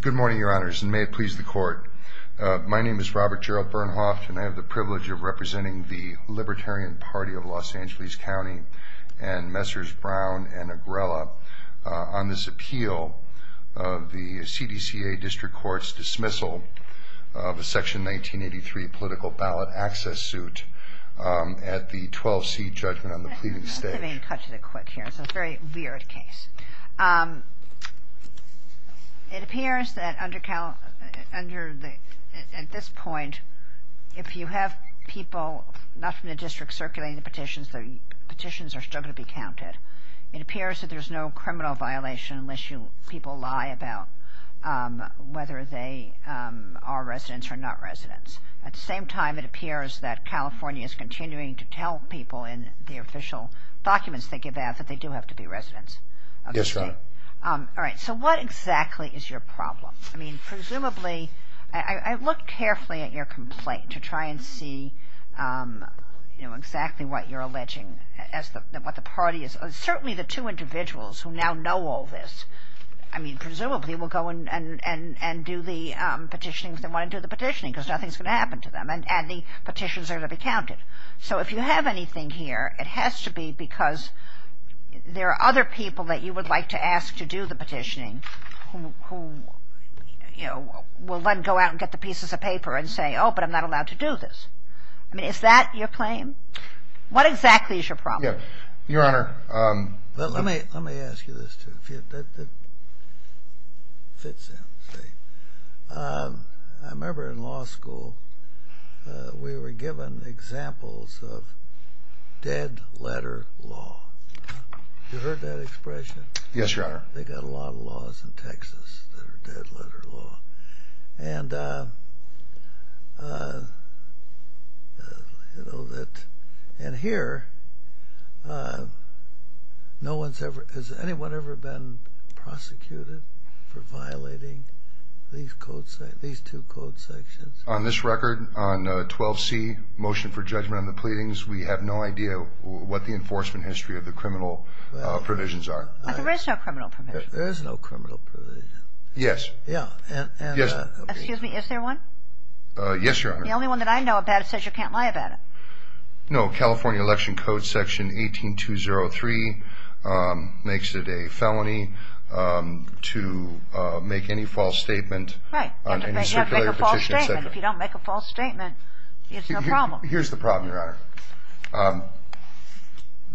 Good morning, your honors, and may it please the court. My name is Robert Gerald Bernhoft, and I have the privilege of representing the Libertarian Party of Los Angeles County and Messrs. Brown and Agrella on this appeal of the CDCA District Court's dismissal of a section 1983 political ballot access suit at the 12 seat judgment on the pleading stage. Let me cut to the quick here. It's a very weird case. It appears that under the, at this point, if you have people not from the district circulating the petitions, the petitions are still going to be counted. It appears that there's no criminal violation unless you, people lie about whether they are residents or not residents. At the same time, it appears that California is continuing to tell people in the official documents they give out that they do have to be residents. All right, so what exactly is your problem? I mean, presumably, I looked carefully at your complaint to try and see you know, exactly what you're alleging as what the party is. Certainly the two individuals who now know all this, I mean, presumably will go in and and and do the petitioning because they want to do the petitioning because nothing's going to happen to them, and the petitions are to be counted. So if you have anything here, it has to be because there are other people that you would like to ask to do the petitioning who you know, will then go out and get the pieces of paper and say, oh, but I'm not allowed to do this. I mean, is that your claim? What exactly is your problem? Yeah, Your Honor, let me, let me ask you this, too. I remember in law school, we were given examples of dead-letter law. You heard that expression? Yes, Your Honor. They've got a lot of laws in Texas that are dead-letter law, and you know that, and here, no one's ever, has anyone ever been prosecuted for violating these code, these two code sections? On this record, on 12C, motion for judgment on the pleadings, we have no idea what the enforcement history of the criminal provisions are. But there is no criminal provision. There is no criminal provision. Yes. Yeah. Yes. Excuse me, is there one? Yes, Your Honor. The only one that I know about it says you can't lie about it. No, California Election Code section 18203 makes it a felony to make any false statement. Right. If you don't make a false statement, it's no problem. Here's the problem, Your Honor.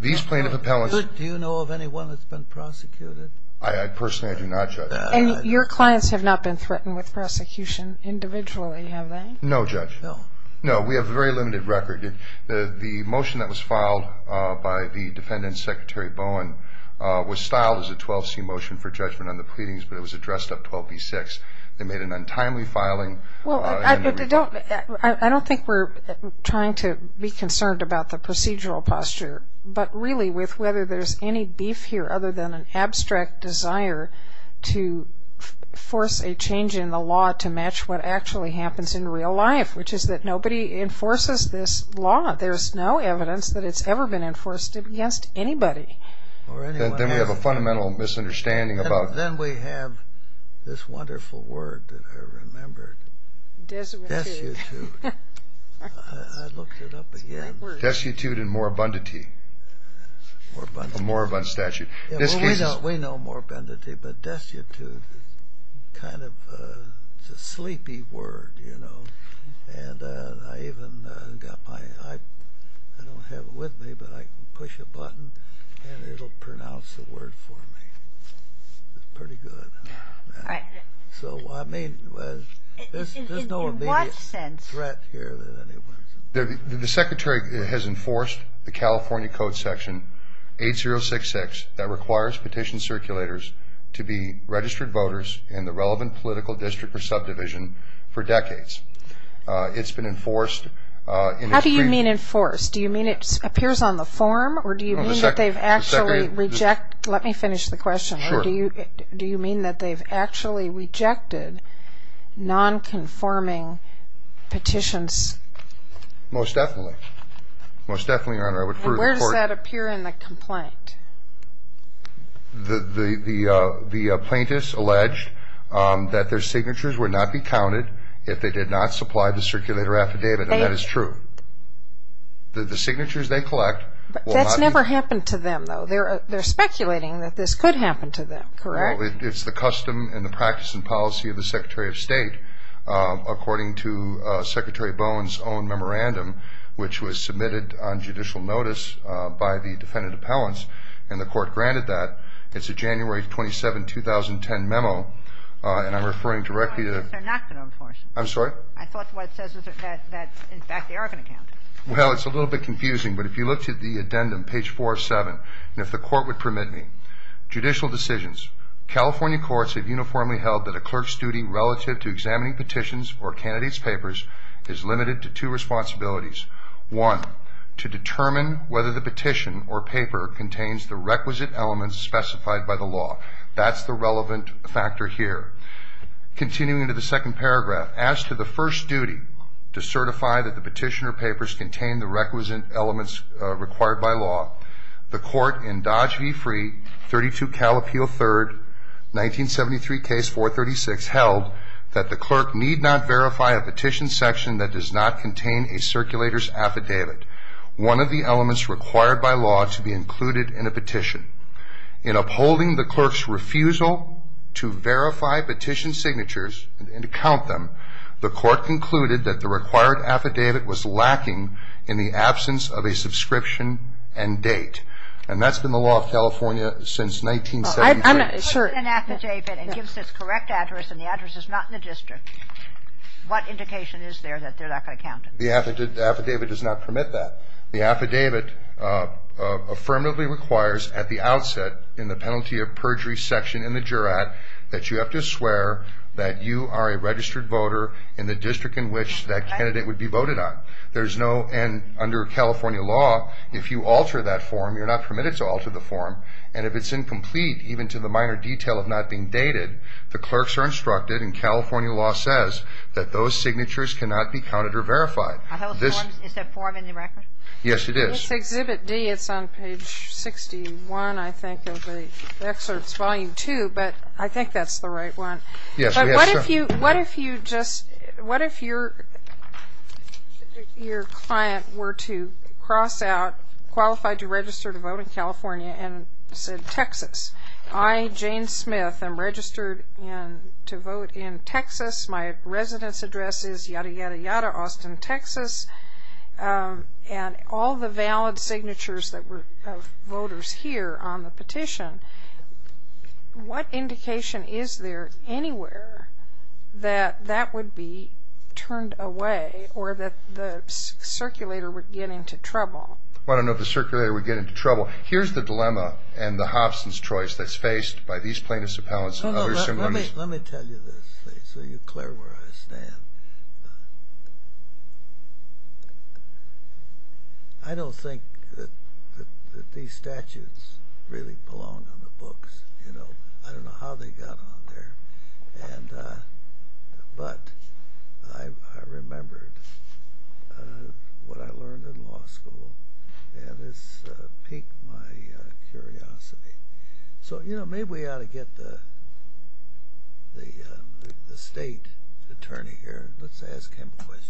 These plaintiff appellants... Do you know of anyone that's been prosecuted? I personally do not, Judge. And your clients have not been threatened with prosecution individually, have they? No, Judge. No. No, we have a very limited record. The motion that was filed by the defendant, Secretary Bowen, was styled as a 12C motion for judgment on the pleadings, but it was addressed up 12B6. They made an untimely filing. Well, I don't think we're trying to be concerned about the procedural posture, but really with whether there's any beef here other than an abstract desire to force a change in the law to match what actually happens in real life, which is that nobody enforces this law. There's no evidence that it's ever been enforced against anybody. Then we have a fundamental misunderstanding about... Then we have this wonderful word that I remembered. Desuetude. Desuetude. I looked it up again. Desuetude and moribundity. Moribund. Moribund statute. We know moribundity, but desuetude is kind of a sleepy word, you know, and I even got my, I don't have it with me, but I can push a button and it'll pronounce the word for me. It's pretty good. So, I mean, there's no immediate threat here that anyone's... The Secretary has enforced the California Code Section 8066 that requires petition circulators to be registered voters in the relevant political district or subdivision for decades. It's been enforced in... How do you mean enforced? Do you mean it appears on the form, or do you mean that they've actually rejected... Non-conforming petitions? Most definitely. Most definitely, Your Honor. I would further report... And where does that appear in the complaint? The plaintiffs alleged that their signatures would not be counted if they did not supply the circulator affidavit, and that is true. The signatures they collect will not be... That's never happened to them, though. They're speculating that this could happen to them, correct? It's the custom and the practice and policy of the Secretary of State, according to Secretary Bone's own memorandum, which was submitted on judicial notice by the defendant appellants, and the court granted that. It's a January 27, 2010 memo, and I'm referring directly to... These are not going to enforce it. I'm sorry? I thought what it says is that, in fact, they are going to count it. Well, it's a little bit confusing, but if you looked at the addendum, page 47, and if the court would permit me, Judicial decisions. California courts have uniformly held that a clerk's duty relative to examining petitions or candidates' papers is limited to two responsibilities. One, to determine whether the petition or paper contains the requisite elements specified by the law. That's the relevant factor here. Continuing to the second paragraph, As to the first duty to certify that the petition or papers contain the requisite elements required by law, the court in Dodge v. Free, 32 Cal Appeal 3rd, 1973 Case 436, held that the clerk need not verify a petition section that does not contain a circulator's affidavit, one of the elements required by law to be included in a petition. In upholding the clerk's refusal to verify petition signatures and to count them, the court concluded that the required affidavit was lacking in the absence of a subscription and date. And that's been the law of California since 1973. If a clerk has an affidavit and gives its correct address and the address is not in the district, what indication is there that they're not going to count it? The affidavit does not permit that. The affidavit affirmatively requires at the outset in the penalty of perjury section in the jurat that you have to swear that you are a registered voter in the district in which that candidate would be voted on. There's no, and under California law, if you alter that form, you're not permitted to alter the form, and if it's incomplete, even to the minor detail of not being dated, the clerks are instructed, and California law says, that those signatures cannot be counted or verified. Is that form in the record? Yes, it is. Let's exhibit D. It's on page 61, I think, of the excerpts, volume 2, but I think that's the right one. But what if you just, what if your client were to cross out, qualified to register to vote in California, and said Texas. I, Jane Smith, am registered to vote in Texas. My residence address is yada, yada, yada, Austin, Texas. And all the valid signatures that were of voters here on the petition, what indication is there anywhere that that would be turned away, or that the circulator would get into trouble? Well, I don't know if the circulator would get into trouble. Here's the dilemma, and the Hobson's choice that's faced by these plaintiffs' appellants, Let me tell you this, so you're clear where I stand. I don't think that these statutes really belong on the books. I don't know how they got on there, but I remembered what I learned in law school, and it's piqued my curiosity. So, you know, maybe we ought to get the state attorney here. Let's ask him questions.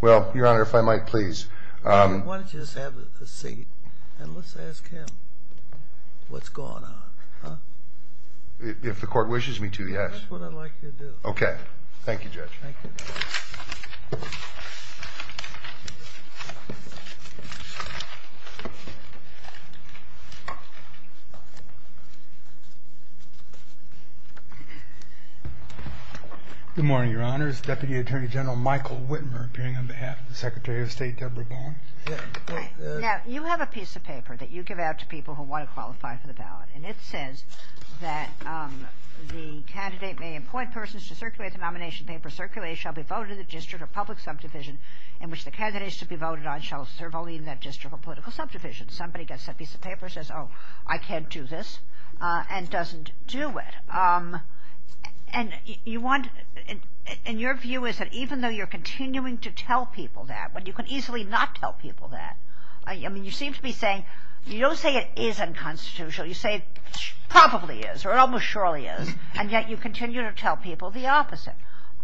Well, Your Honor, if I might, please. Why don't you just have a seat, and let's ask him what's going on, huh? If the court wishes me to, yes. That's what I'd like you to do. Okay. Thank you, Judge. Good morning, Your Honor. It's Deputy Attorney General Michael Whitmer appearing on behalf of the Secretary of State Debra Bond. Now, you have a piece of paper that you give out to people who want to qualify for the ballot, and it says that the candidate may appoint persons to circulate the nomination paper, circulate, shall be voted in the district or public subdivision in which the candidates to be voted on shall serve only in that district or political subdivision. Somebody gets that piece of paper and says, oh, I can't do this, and doesn't do it. And you want, and your view is that even though you're continuing to tell people that, but you can easily not tell people that, I mean, you seem to be saying, you don't say it is unconstitutional, you say it probably is, or almost surely is, and yet you continue to tell people the opposite.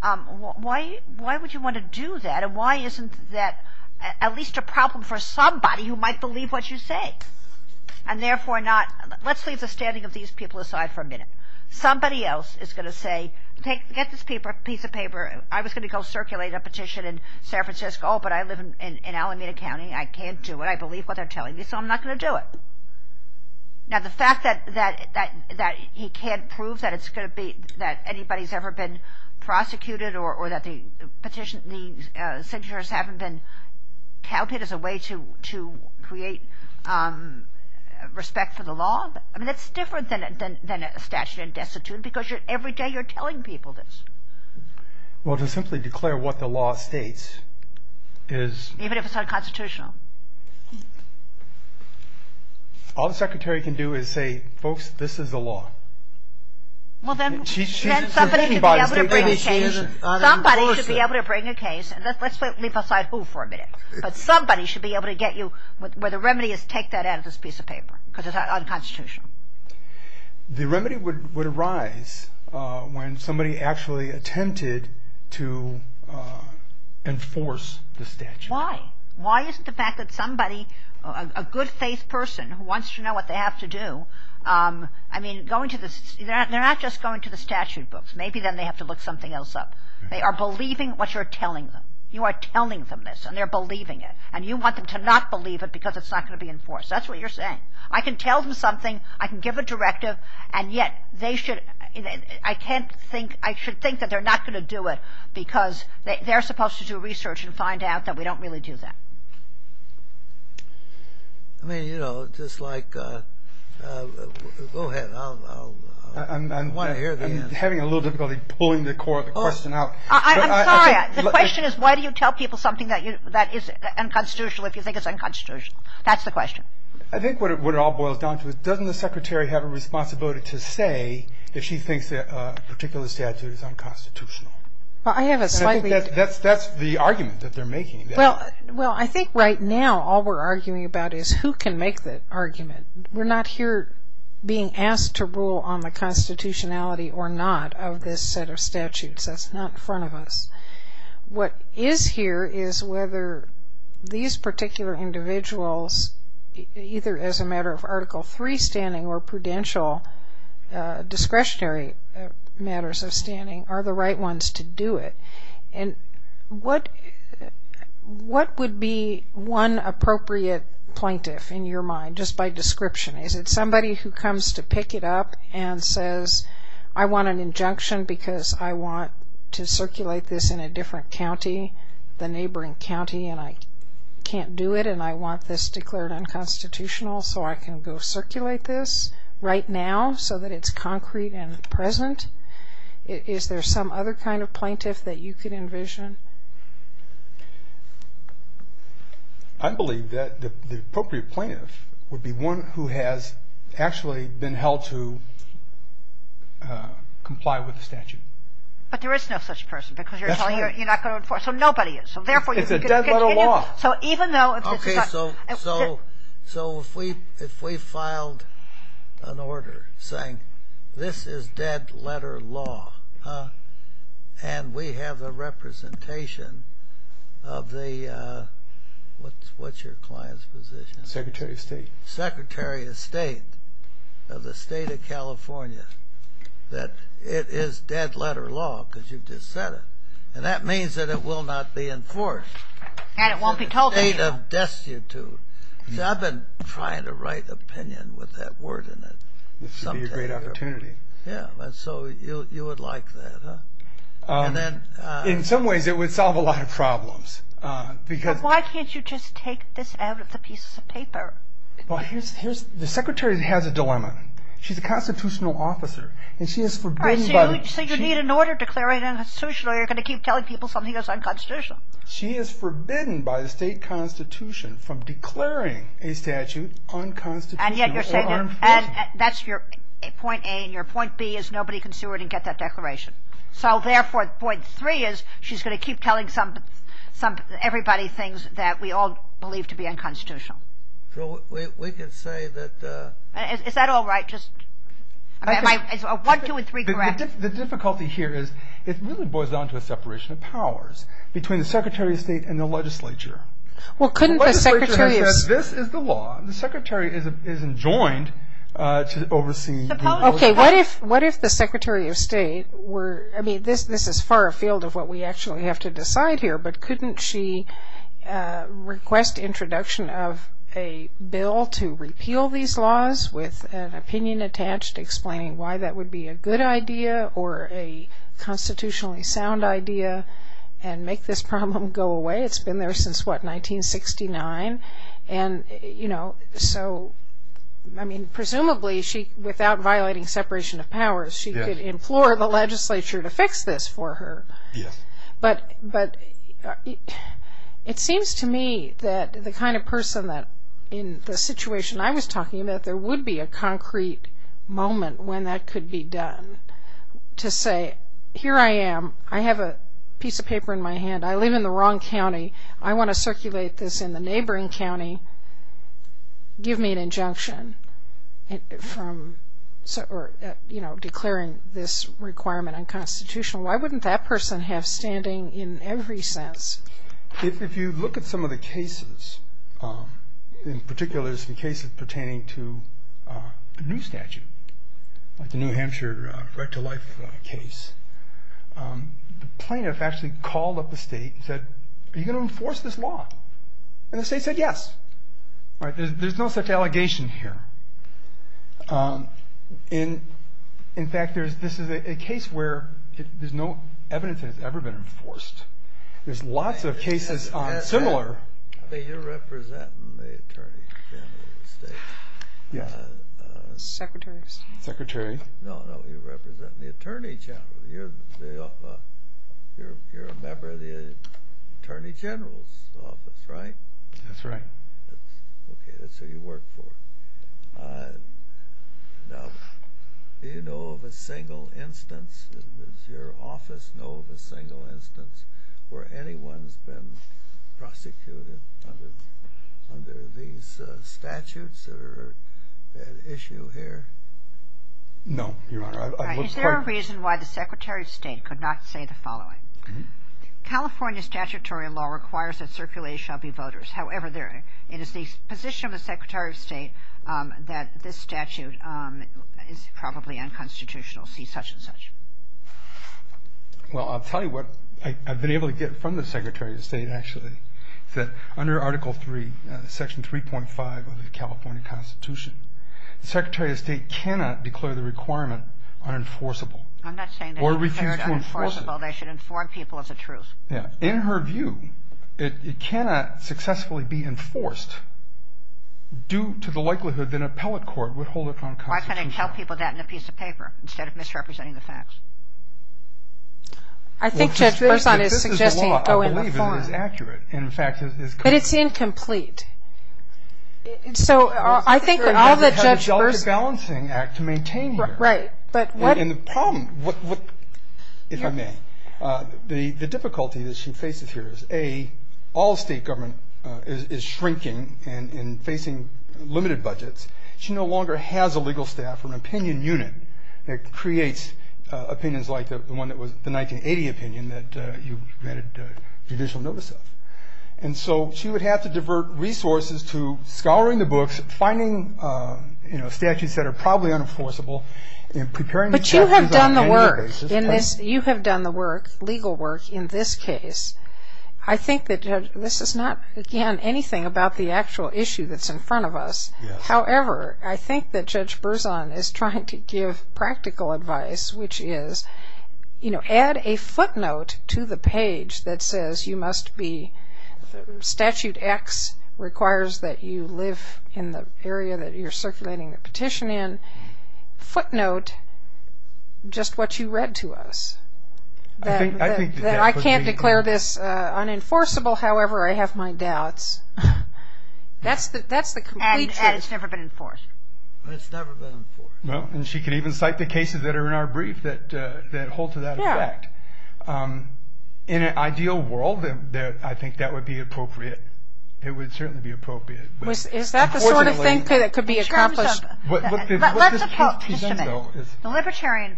Why would you want to do that, and why isn't that at least a problem for somebody who might believe what you say? And therefore not, let's leave the standing of these people aside for a minute. Somebody else is going to say, get this piece of paper, I was going to go circulate a petition in San Francisco, but I live in Alameda County, I can't do it, I believe what they're telling me, so I'm not going to do it. Now, the fact that he can't prove that anybody's ever been prosecuted or that the signatures haven't been counted as a way to create respect for the law, I mean, that's different than a statute of destitute, because every day you're telling people this. Well, to simply declare what the law states is... Even if it's unconstitutional. All the Secretary can do is say, folks, this is the law. Well, then somebody should be able to bring a case, let's leave aside who for a minute, but somebody should be able to get you where the remedy is take that out of this piece of paper, because it's unconstitutional. The remedy would arise when somebody actually attempted to enforce the statute. Why? Why isn't the fact that somebody, a good-faith person who wants to know what they have to do, I mean, they're not just going to the statute books, maybe then they have to look something else up. They are believing what you're telling them. You are telling them this, and they're believing it, and you want them to not believe it because it's not going to be enforced. That's what you're saying. I can tell them something, I can give a directive, and yet they should, I can't think, I should think that they're not going to do it because they're supposed to do research and find out that we don't really do that. I mean, you know, just like, go ahead, I want to hear the answer. I'm having a little difficulty pulling the core of the question out. I'm sorry, the question is why do you tell people something that is unconstitutional if you think it's unconstitutional? That's the question. I think what it all boils down to is doesn't the secretary have a responsibility to say that she thinks a particular statute is unconstitutional? That's the argument that they're making. Well, I think right now all we're arguing about is who can make the argument? We're not here being asked to rule on the constitutionality or not of this set of statutes. That's not in front of us. What is here is whether these particular individuals either as a matter of Article III standing or prudential, discretionary matters of standing are the right ones to do it. And what what would be one appropriate plaintiff in your mind, just by description? Is it somebody who comes to pick it up and says I want an injunction because I want to circulate this in a different county, the neighboring county and I can't do it and I want this declared unconstitutional so I can go circulate this right now so that it's concrete and present? Is there some other kind of plaintiff that you could envision? I believe that the appropriate plaintiff would be one who has actually been held to comply with the statute. But there is no such person. So nobody is. It's a dead letter law. So if we filed an order saying this is dead letter law and we have a representation of the what's your client's position? Secretary of State. Secretary of State of the state of California that it is dead letter law because you just said it. And that means that it will not be enforced. And it won't be told to you. See I've been trying to write opinion with that word in it. This would be a great opportunity. Yeah, so you would like that, huh? In some ways it would solve a lot of problems. But why can't you just take this out of the pieces of paper? The secretary has a dilemma. She's a constitutional officer. So you need an order declaring it unconstitutional or you're going to keep telling people something is unconstitutional? She is forbidden by the state constitution from declaring a statute unconstitutional or unenforced. Then that's your point A and your point B is nobody can sue her to get that declaration. So therefore point 3 is she's going to keep telling everybody things that we all believe to be unconstitutional. So we could say that Is that alright? Is 1, 2 and 3 correct? The difficulty here is it really boils down to a separation of powers between the Secretary of State and the legislature. The legislature says this is the law The secretary isn't joined to oversee What if the Secretary of State I mean this is far afield of what we actually have to decide here but couldn't she request introduction of a bill to repeal these laws with an opinion attached explaining why that would be a good idea or a constitutionally sound idea and make this problem go away? It's been there since what 1969? Presumably without violating separation of powers she could implore the legislature to fix this for her but it seems to me that the kind of person in the situation I was talking about there would be a concrete moment when that could be done to say here I am I have a piece of paper in my hand I live in the wrong county I want to circulate this in the neighboring county give me an injunction from declaring this requirement unconstitutional why wouldn't that person have standing in every sense? If you look at some of the cases in particular the cases pertaining to a new statute like the New Hampshire Right to Life case the plaintiff actually called up the state and said are you going to enforce this law? and the state said yes there's no such allegation here in fact this is a case where no evidence has ever been enforced there's lots of cases similar you're representing the attorney general of the state secretary secretary the attorney general you're a member of the attorney general's office right? that's right that's who you work for now do you know of a single instance does your office know of a single instance where anyone has been prosecuted under these statutes is that an issue here? no is there a reason why the secretary of state could not say the following California statutory law requires that circulated shall be voters however it is the position of the secretary of state that this statute is probably unconstitutional see such and such well I'll tell you what I've been able to get from the secretary of state actually that under article 3 section 3.5 of the California constitution the secretary of state cannot declare the requirement unenforceable or refuse to enforce it in her view it cannot successfully be enforced due to the likelihood that an appellate court would hold it unconstitutional why can't they tell people that in a piece of paper instead of misrepresenting the facts I think Judge Burson is suggesting this is the law I believe it is accurate but it's incomplete so I think all that Judge Burson to maintain the problem if I may the difficulty that she faces here is all state government is shrinking and facing limited budgets she no longer has a legal staff or an opinion unit that creates opinions like the one that was the 1980 opinion that you granted judicial notice of and so she would have to divert resources to scouring the books finding statutes that are probably unenforceable but you have done the work you have done the work legal work in this case I think that this is not again anything about the actual issue that's in front of us however I think that Judge Burson is trying to give practical advice which is add a footnote to the page that says you must be statute X requires that you live in the area that you are circulating the petition in footnote just what you read to us I think I can't declare this unenforceable however I have my doubts that's the complete truth and it's never been enforced it's never been enforced and she can even cite the cases that are in our brief that hold to that effect in an ideal world I think that would be appropriate it would certainly be appropriate is that the sort of thing that could be accomplished the libertarian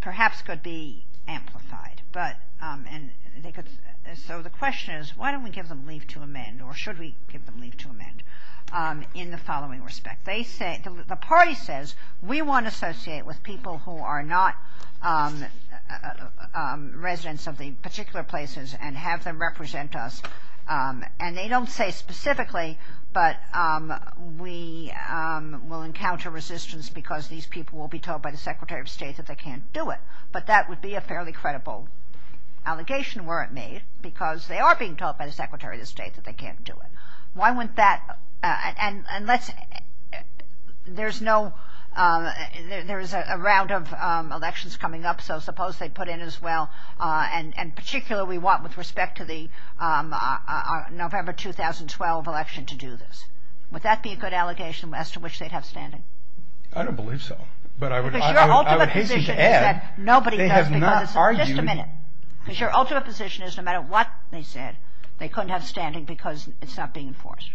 perhaps could be amplified so the question is why don't we give them leave to amend or should we give them leave to amend in the following respect the party says we want to associate with people who are not residents of the particular places and have them represent us and they don't say specifically but we will encounter resistance because these people will be told by the Secretary of State that they can't do it but that would be a fairly credible allegation were it made because they are being told by the Secretary of State that they can't do it why wouldn't that there's no there's a round of elections coming up so suppose they put in as well and particularly what with respect to the November 2012 election to do this would that be a good allegation as to which they'd have standing I don't believe so but I would hasten to add they have not argued because your ultimate position is no matter what they said they couldn't have standing because it's not being enforced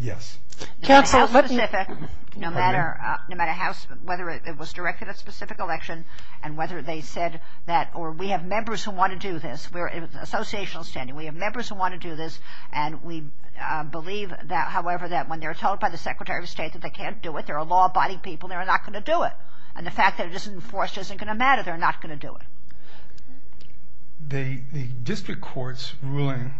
yes no matter how specific no matter how whether it was directed at a specific election and whether they said that or we have members who want to do this we have members who want to do this and we believe however that when they're told by the Secretary of State that they can't do it they're a law abiding people they're not going to do it and the fact that it isn't enforced isn't going to matter they're not going to do it the district courts ruling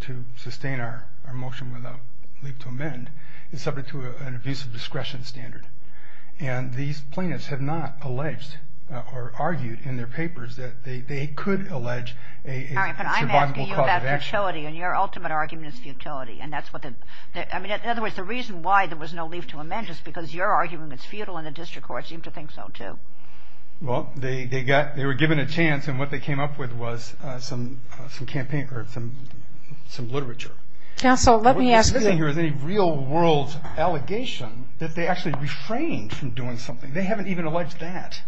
to sustain our motion without leave to amend is subject to an abuse of discretion standard and these plaintiffs have not alleged or argued in their papers that they could allege a survivable cause of action I'm asking you about futility and your ultimate argument is futility and that's what in other words the reason why there was no leave to amend is because your argument is futile and the district courts seem to think so too well they were given a chance and what they came up with was some literature counsel let me ask is there any real world allegation that they actually refrained from doing something they haven't even alleged that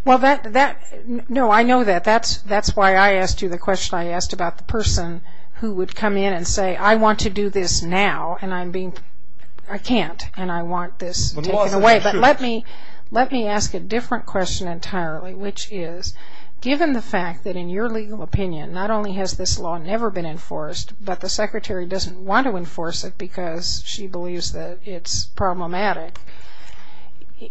no I know that that's why I asked you the question I asked about the person who would come in and say I want to do this now and I can't and I want this taken away but let me ask a different question entirely which is given the fact that in your legal opinion not only has this law never been enforced but the secretary doesn't want to enforce it because she believes that it's problematic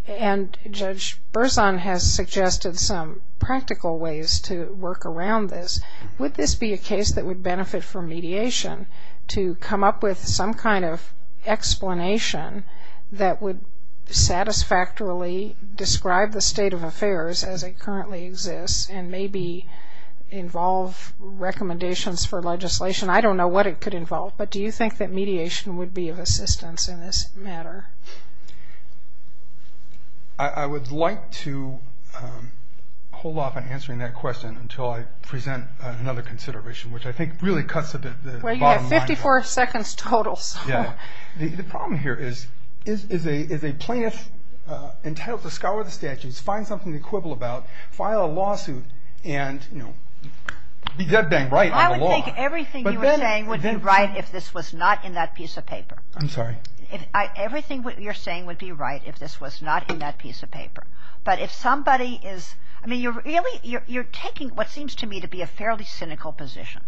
and Judge Berzon has suggested some practical ways to work around this would this be a case that would benefit from mediation to come up with some kind of explanation that would satisfactorily describe the state of affairs as it currently exists and maybe involve recommendations for legislation I don't know what it could involve but do you think that mediation would be of assistance in this matter I would like to hold off on answering that question until I present another consideration which I think really cuts the bottom line the problem here is is a plaintiff entitled to scour the statutes find something to quibble about file a lawsuit and be dead bang right on the law I would think everything you were saying would be right if this was not in that piece of paper I'm sorry everything you're saying would be right if this was not in that piece of paper but if somebody is you're taking what seems to me to be a fairly cynical position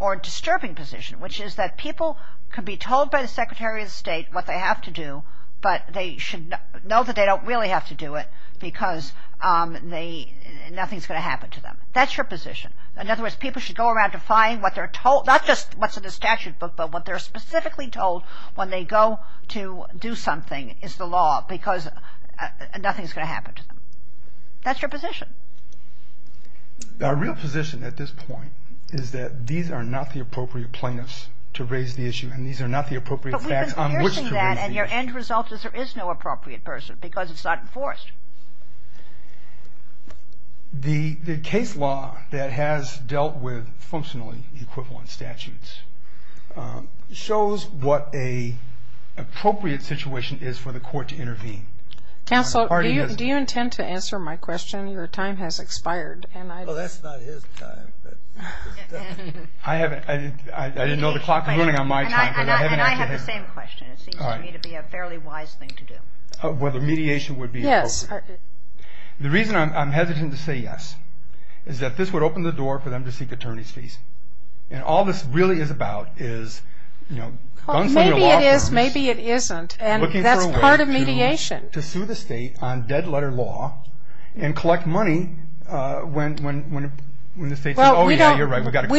or a disturbing position which is that people could be told by the Secretary of State what they have to do but they should know that they don't really have to do it because nothing's going to happen to them that's your position in other words people should go around to find what they're told not just what's in the statute book but what they're specifically told when they go to do something is the law because nothing's going to happen to them that's your position our real position at this point is that these are not the appropriate plaintiffs to raise the issue and these are not the appropriate facts on which to raise the issue but we've been piercing that and your end result is there is no appropriate person because it's not enforced the case law that has dealt with functionally equivalent statutes shows what a appropriate situation is for the court to intervene counsel do you intend to answer my question your time has expired well that's not his time I didn't know the clock was running on my time and I have the same question it seems to me to be a fairly wise thing to do whether mediation would be appropriate the reason I'm hesitant to say yes is that this would open the door for them to seek attorney's fees and all this really is about is maybe it is, maybe it isn't and that's part of mediation to sue the state on dead letter law and collect money when the state says oh yeah you're right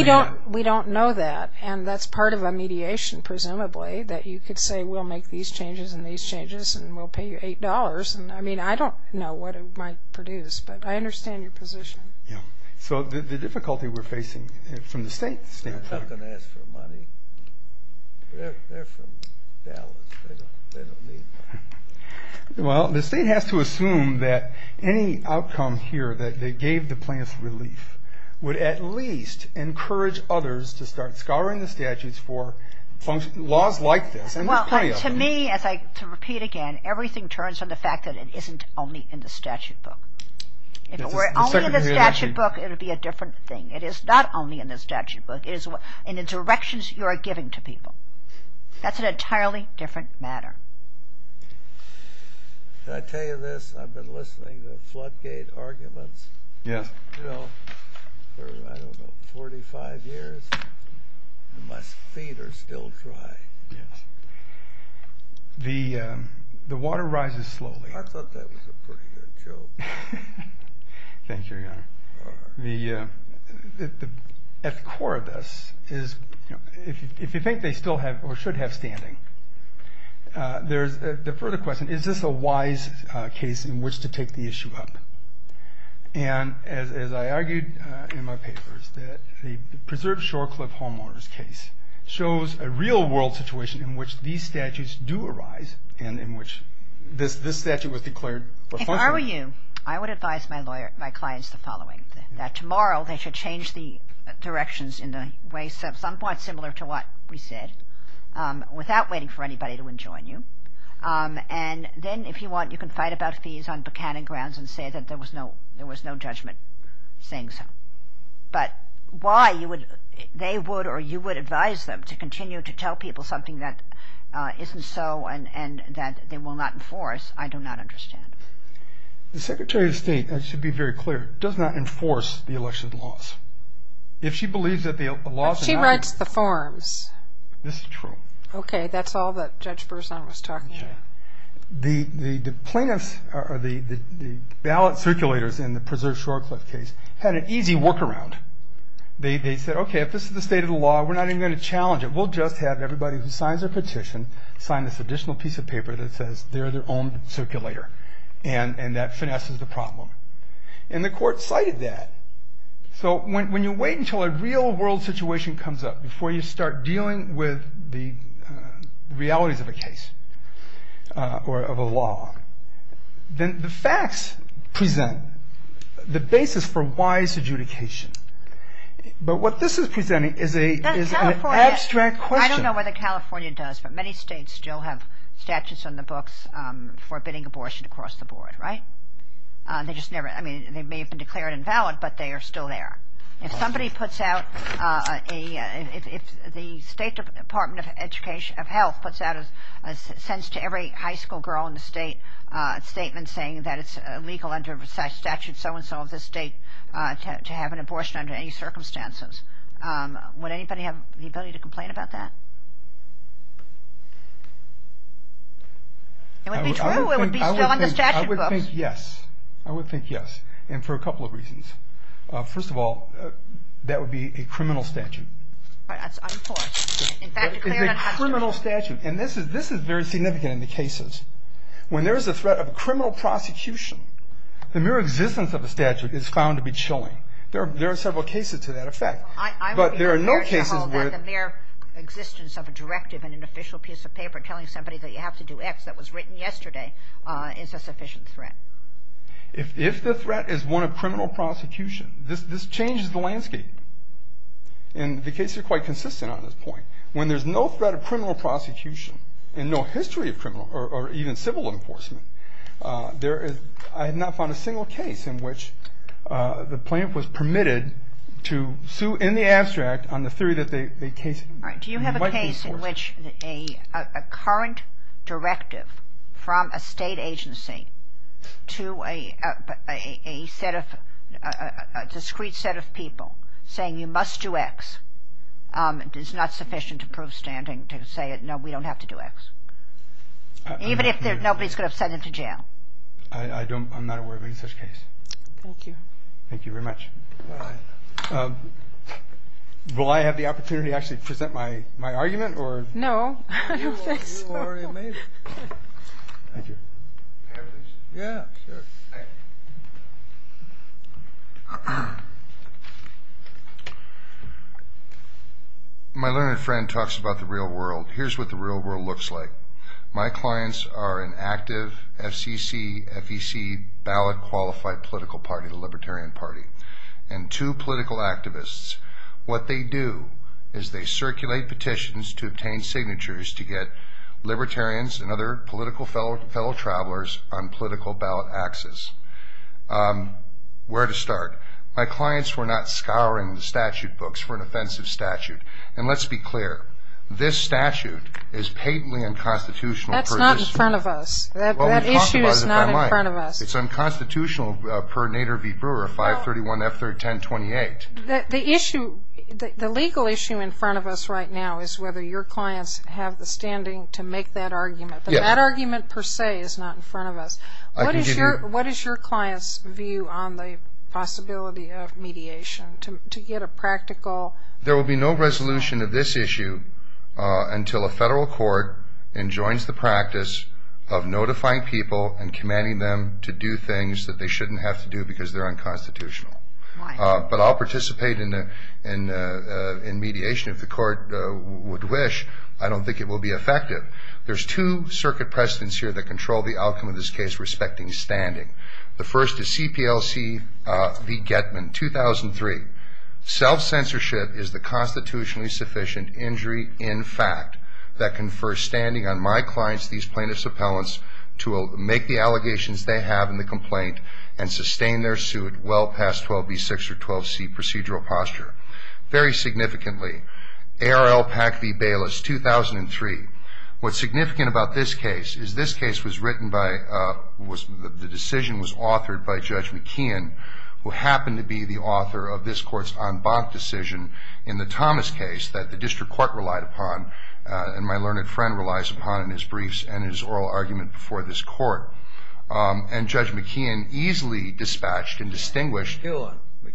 we don't know that and that's part of a mediation presumably that you could say we'll make these changes and these changes and we'll pay you $8 I mean I don't know what it might produce but I understand your position so the difficulty we're facing from the state standpoint they're not going to ask for money they're from Dallas they don't need money well the state has to assume that any outcome here that they gave the plaintiffs relief would at least encourage others to start scouring the statutes for laws like this and there's plenty of them to repeat again, everything turns from the fact that it isn't only in the statute book if it were only in the statute book it would be a different thing it is not only in the statute book it is in the directions you are giving to people that's an entirely different matter can I tell you this I've been listening to floodgate arguments yes for I don't know 45 years and my feet are still dry yes the water rises slowly I thought that was a pretty good joke thank you your honor the at the core of this if you think they still have or should have standing there's the further question is this a wise case in which to take the issue up and as I argued in my papers the preserved shore cliff homeowners case shows a real world situation in which these statutes do arise and in which this statute was declared functional if I were you I would advise my clients the following that tomorrow they should change the directions in the way somewhat similar to what we said without waiting for anybody to enjoin you and then if you want you can fight about fees on Buchanan grounds and say that there was no judgment saying so but why they would or you would advise them to continue to tell people something that isn't so and that they will not enforce I do not understand the secretary of state does not enforce the election laws if she believes that the laws she writes the forms this is true ok that's all that judge Berzon was talking about the plaintiffs or the ballot circulators in the preserved shore cliff case had an easy work around they said ok if this is the state of the law we're not even going to challenge it we'll just have everybody who signs their petition sign this additional piece of paper that says they're their own circulator and that finesses the problem and the court cited that so when you wait until a real world situation comes up before you start dealing with the realities of a case or of a law then the facts present the basis for wise adjudication but what this is presenting is an abstract question I don't know whether California does but many states still have statutes on the books forbidding abortion across the board right they may have been declared invalid but they are still there if somebody puts out if the state department of education of health sends to every high school girl in the state a statement saying that it's illegal under statute so and so of the state to have an abortion under any circumstances would anybody have the ability to complain about that it would be true I would think yes and for a couple of reasons first of all that would be a criminal statute it's a criminal statute and this is very significant in the cases when there is a threat of criminal prosecution the mere existence of a statute is found to be chilling there are several cases to that effect but there are no cases where the mere existence of a directive and an official piece of paper telling somebody that you have to do X that was written yesterday is a sufficient threat if the threat is one of criminal prosecution this changes the landscape and the cases are quite consistent on this point when there is no threat of criminal prosecution and no history of criminal or even civil enforcement there is I have not found a single case in which the plaintiff was permitted to sue in the abstract on the theory that the case Do you have a case in which a current directive from a state agency to a set of a discrete set of people saying you must do X is not sufficient to prove standing to say no we don't have to do X even if nobody is going to send them to jail I'm not aware of any such case Thank you Thank you very much Will I have the opportunity to actually present my argument No You already made it Thank you My learned friend talks about the real world Here's what the real world looks like My clients are an active FCC, FEC ballot qualified political party the Libertarian party and two political activists What they do is they circulate petitions to obtain signatures to get Libertarians and other political fellow travelers on political ballot access Where to start My clients were not scouring the statute books for an offensive statute And let's be clear This statute is patently unconstitutional That's not in front of us That issue is not in front of us It's unconstitutional per Nader V. Brewer 531 F1028 The issue The legal issue in front of us right now is whether your clients have the standing to make that argument That argument per se is not in front of us What is your clients view on the possibility of mediation to get a practical There will be no resolution of this issue until a federal court enjoins the practice of notifying people and commanding them to do things that they shouldn't have to do because they're unconstitutional But I'll participate in mediation if the court would wish I don't think it will be effective There's two circuit presidents here that control the outcome of this case respecting standing The first is CPLC V. Getman 2003 Self-censorship is the constitutionally sufficient injury in fact that confers standing on my clients these plaintiff's appellants to make the allegations they have in the complaint and sustain their suit well past 12B6 or 12C procedural posture Very significantly ARL PAC V. Bayless 2003 What's significant about this case is this case was written by the decision was who happened to be the author of this court's en banc decision in the Thomas case that the district court relied upon and my learned friend relies upon in his briefs and his oral argument before this court and Judge McKeon easily dispatched and distinguished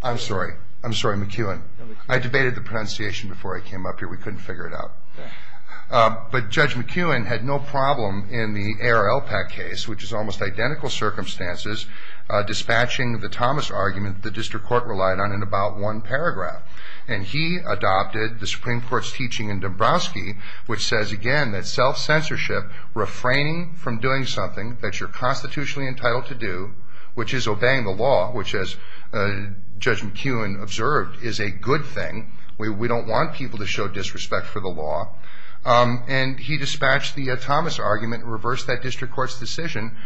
I'm sorry McKeon I debated the pronunciation before I came up here we couldn't figure it out but Judge McKeon had no problem in the ARL PAC case which is almost identical circumstances dispatching the Thomas argument the district court relied on in about one paragraph and he adopted the Supreme Court's teaching in Dabrowski which says again that self-censorship, refraining from doing something that you're constitutionally entitled to do, which is obeying the law which as Judge McKeon observed is a good thing we don't want people to show disrespect for the law and he dispatched the Thomas argument and reversed that district court's decision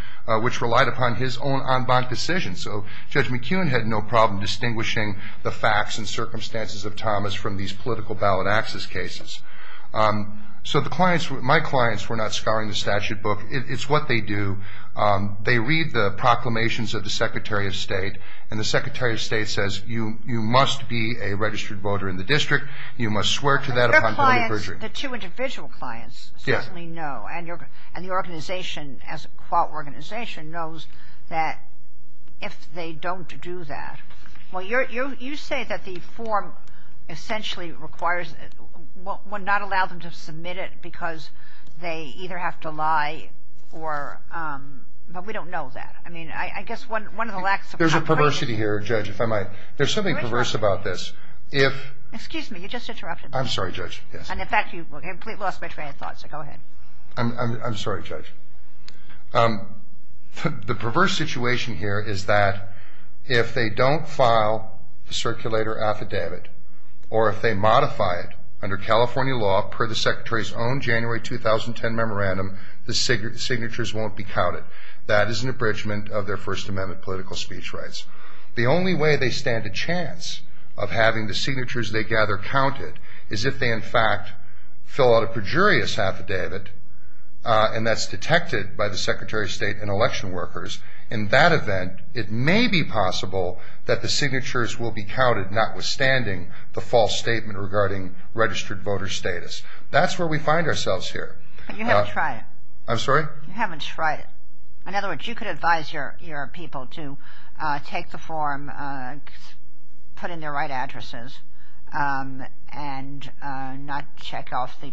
which relied upon his own en banc decision, so Judge McKeon had no problem distinguishing the facts and circumstances of Thomas from these political ballot access cases so the clients, my clients were not scouring the statute book it's what they do they read the proclamations of the Secretary of State and the Secretary of State says you must be a registered voter in the district, you must swear to that upon guilty perjury the two individual clients certainly know and the organization knows that if they don't do that you say that the form essentially requires would not allow them to submit it because they either have to lie or but we don't know that there's a perversity here there's something perverse about this excuse me, you just interrupted me I'm sorry Judge and in fact you completely lost my train of thought so go ahead I'm sorry Judge the perverse situation here is that if they don't file the circulator affidavit or if they modify it under California law per the Secretary's own January 2010 memorandum, the signatures won't be counted, that is an abridgment of their First Amendment political speech rights the only way they stand a chance of having the signatures they gather counted is if they in fact fill out a perjurious affidavit and that's detected by the Secretary of State and election workers in that event it may be possible that the signatures will be counted notwithstanding the false statement regarding registered voter status that's where we find ourselves here you haven't tried it in other words you could advise your people to take the form put in their right addresses and not check off the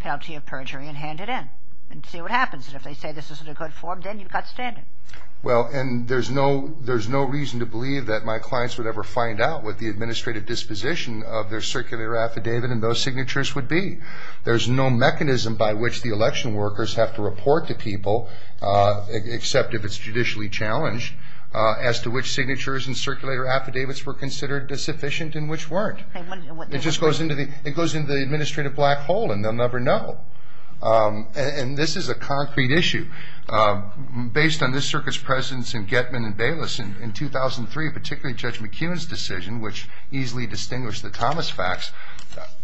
penalty of perjury and hand it in and see what happens and if they say this isn't a good form then you've got standing well and there's no reason to believe that my clients would ever find out what the administrative disposition of their circulator affidavit and those signatures would be there's no mechanism by which the election workers have to report to people except if it's judicially challenged as to which signatures and circulator affidavits were considered sufficient and which weren't it just goes into the administrative black hole and they'll never know and this is a concrete issue based on this circuit's presence in Getman and Bayless in 2003 particularly Judge McKeown's decision which easily distinguished the Thomas facts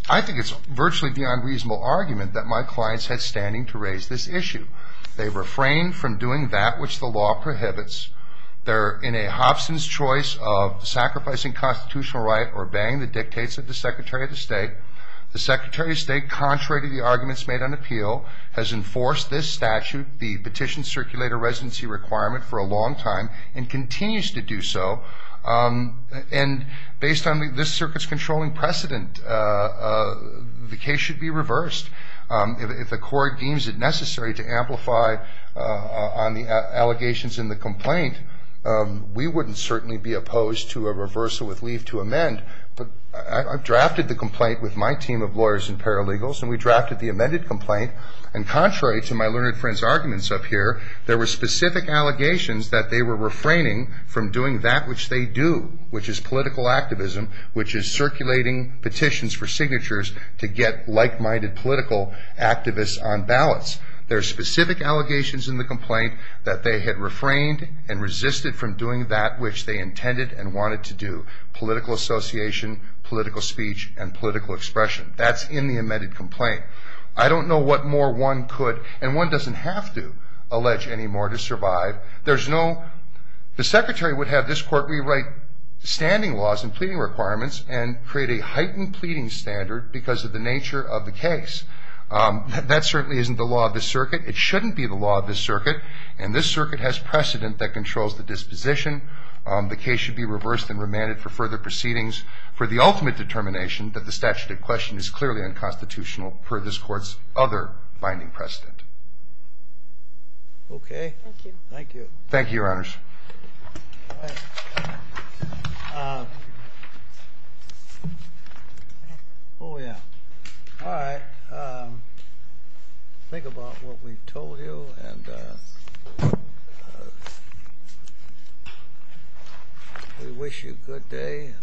I think it's virtually beyond reasonable argument that my clients had standing to raise this issue they refrain from doing that which the law prohibits they're in a Hobson's choice of sacrificing constitutional right or obeying the dictates of the Secretary of State the Secretary of State contrary to the arguments made on appeal has enforced this statute the petition circulator residency requirement for a long time and continues to do so and based on this circuit's controlling precedent the case should be reversed if the court deems it necessary to amplify on the allegations in the complaint we wouldn't certainly be opposed to a reversal with leave to amend but I've drafted the complaint with my team of lawyers and paralegals and we drafted the amended complaint and contrary to my learned friends arguments up here there were specific allegations that they were refraining from doing that which they do which is political activism which is circulating petitions for signatures to get like minded political activists on ballots there's specific allegations in the complaint that they had refrained and resisted from doing that which they intended and wanted to do political association, political speech and political expression that's in the amended complaint I don't know what more one could and one doesn't have to allege anymore to survive there's no the Secretary would have this court rewrite standing laws and pleading requirements and create a heightened pleading standard because of the nature of the case that certainly isn't the law of this circuit it shouldn't be the law of this circuit and this circuit has precedent that controls the disposition the case should be reversed and remanded for further proceedings for the ultimate determination that the statute of question is clearly unconstitutional per this courts other binding precedent okay thank you your honors alright uh oh yeah alright think about what we told you and uh we wish you good day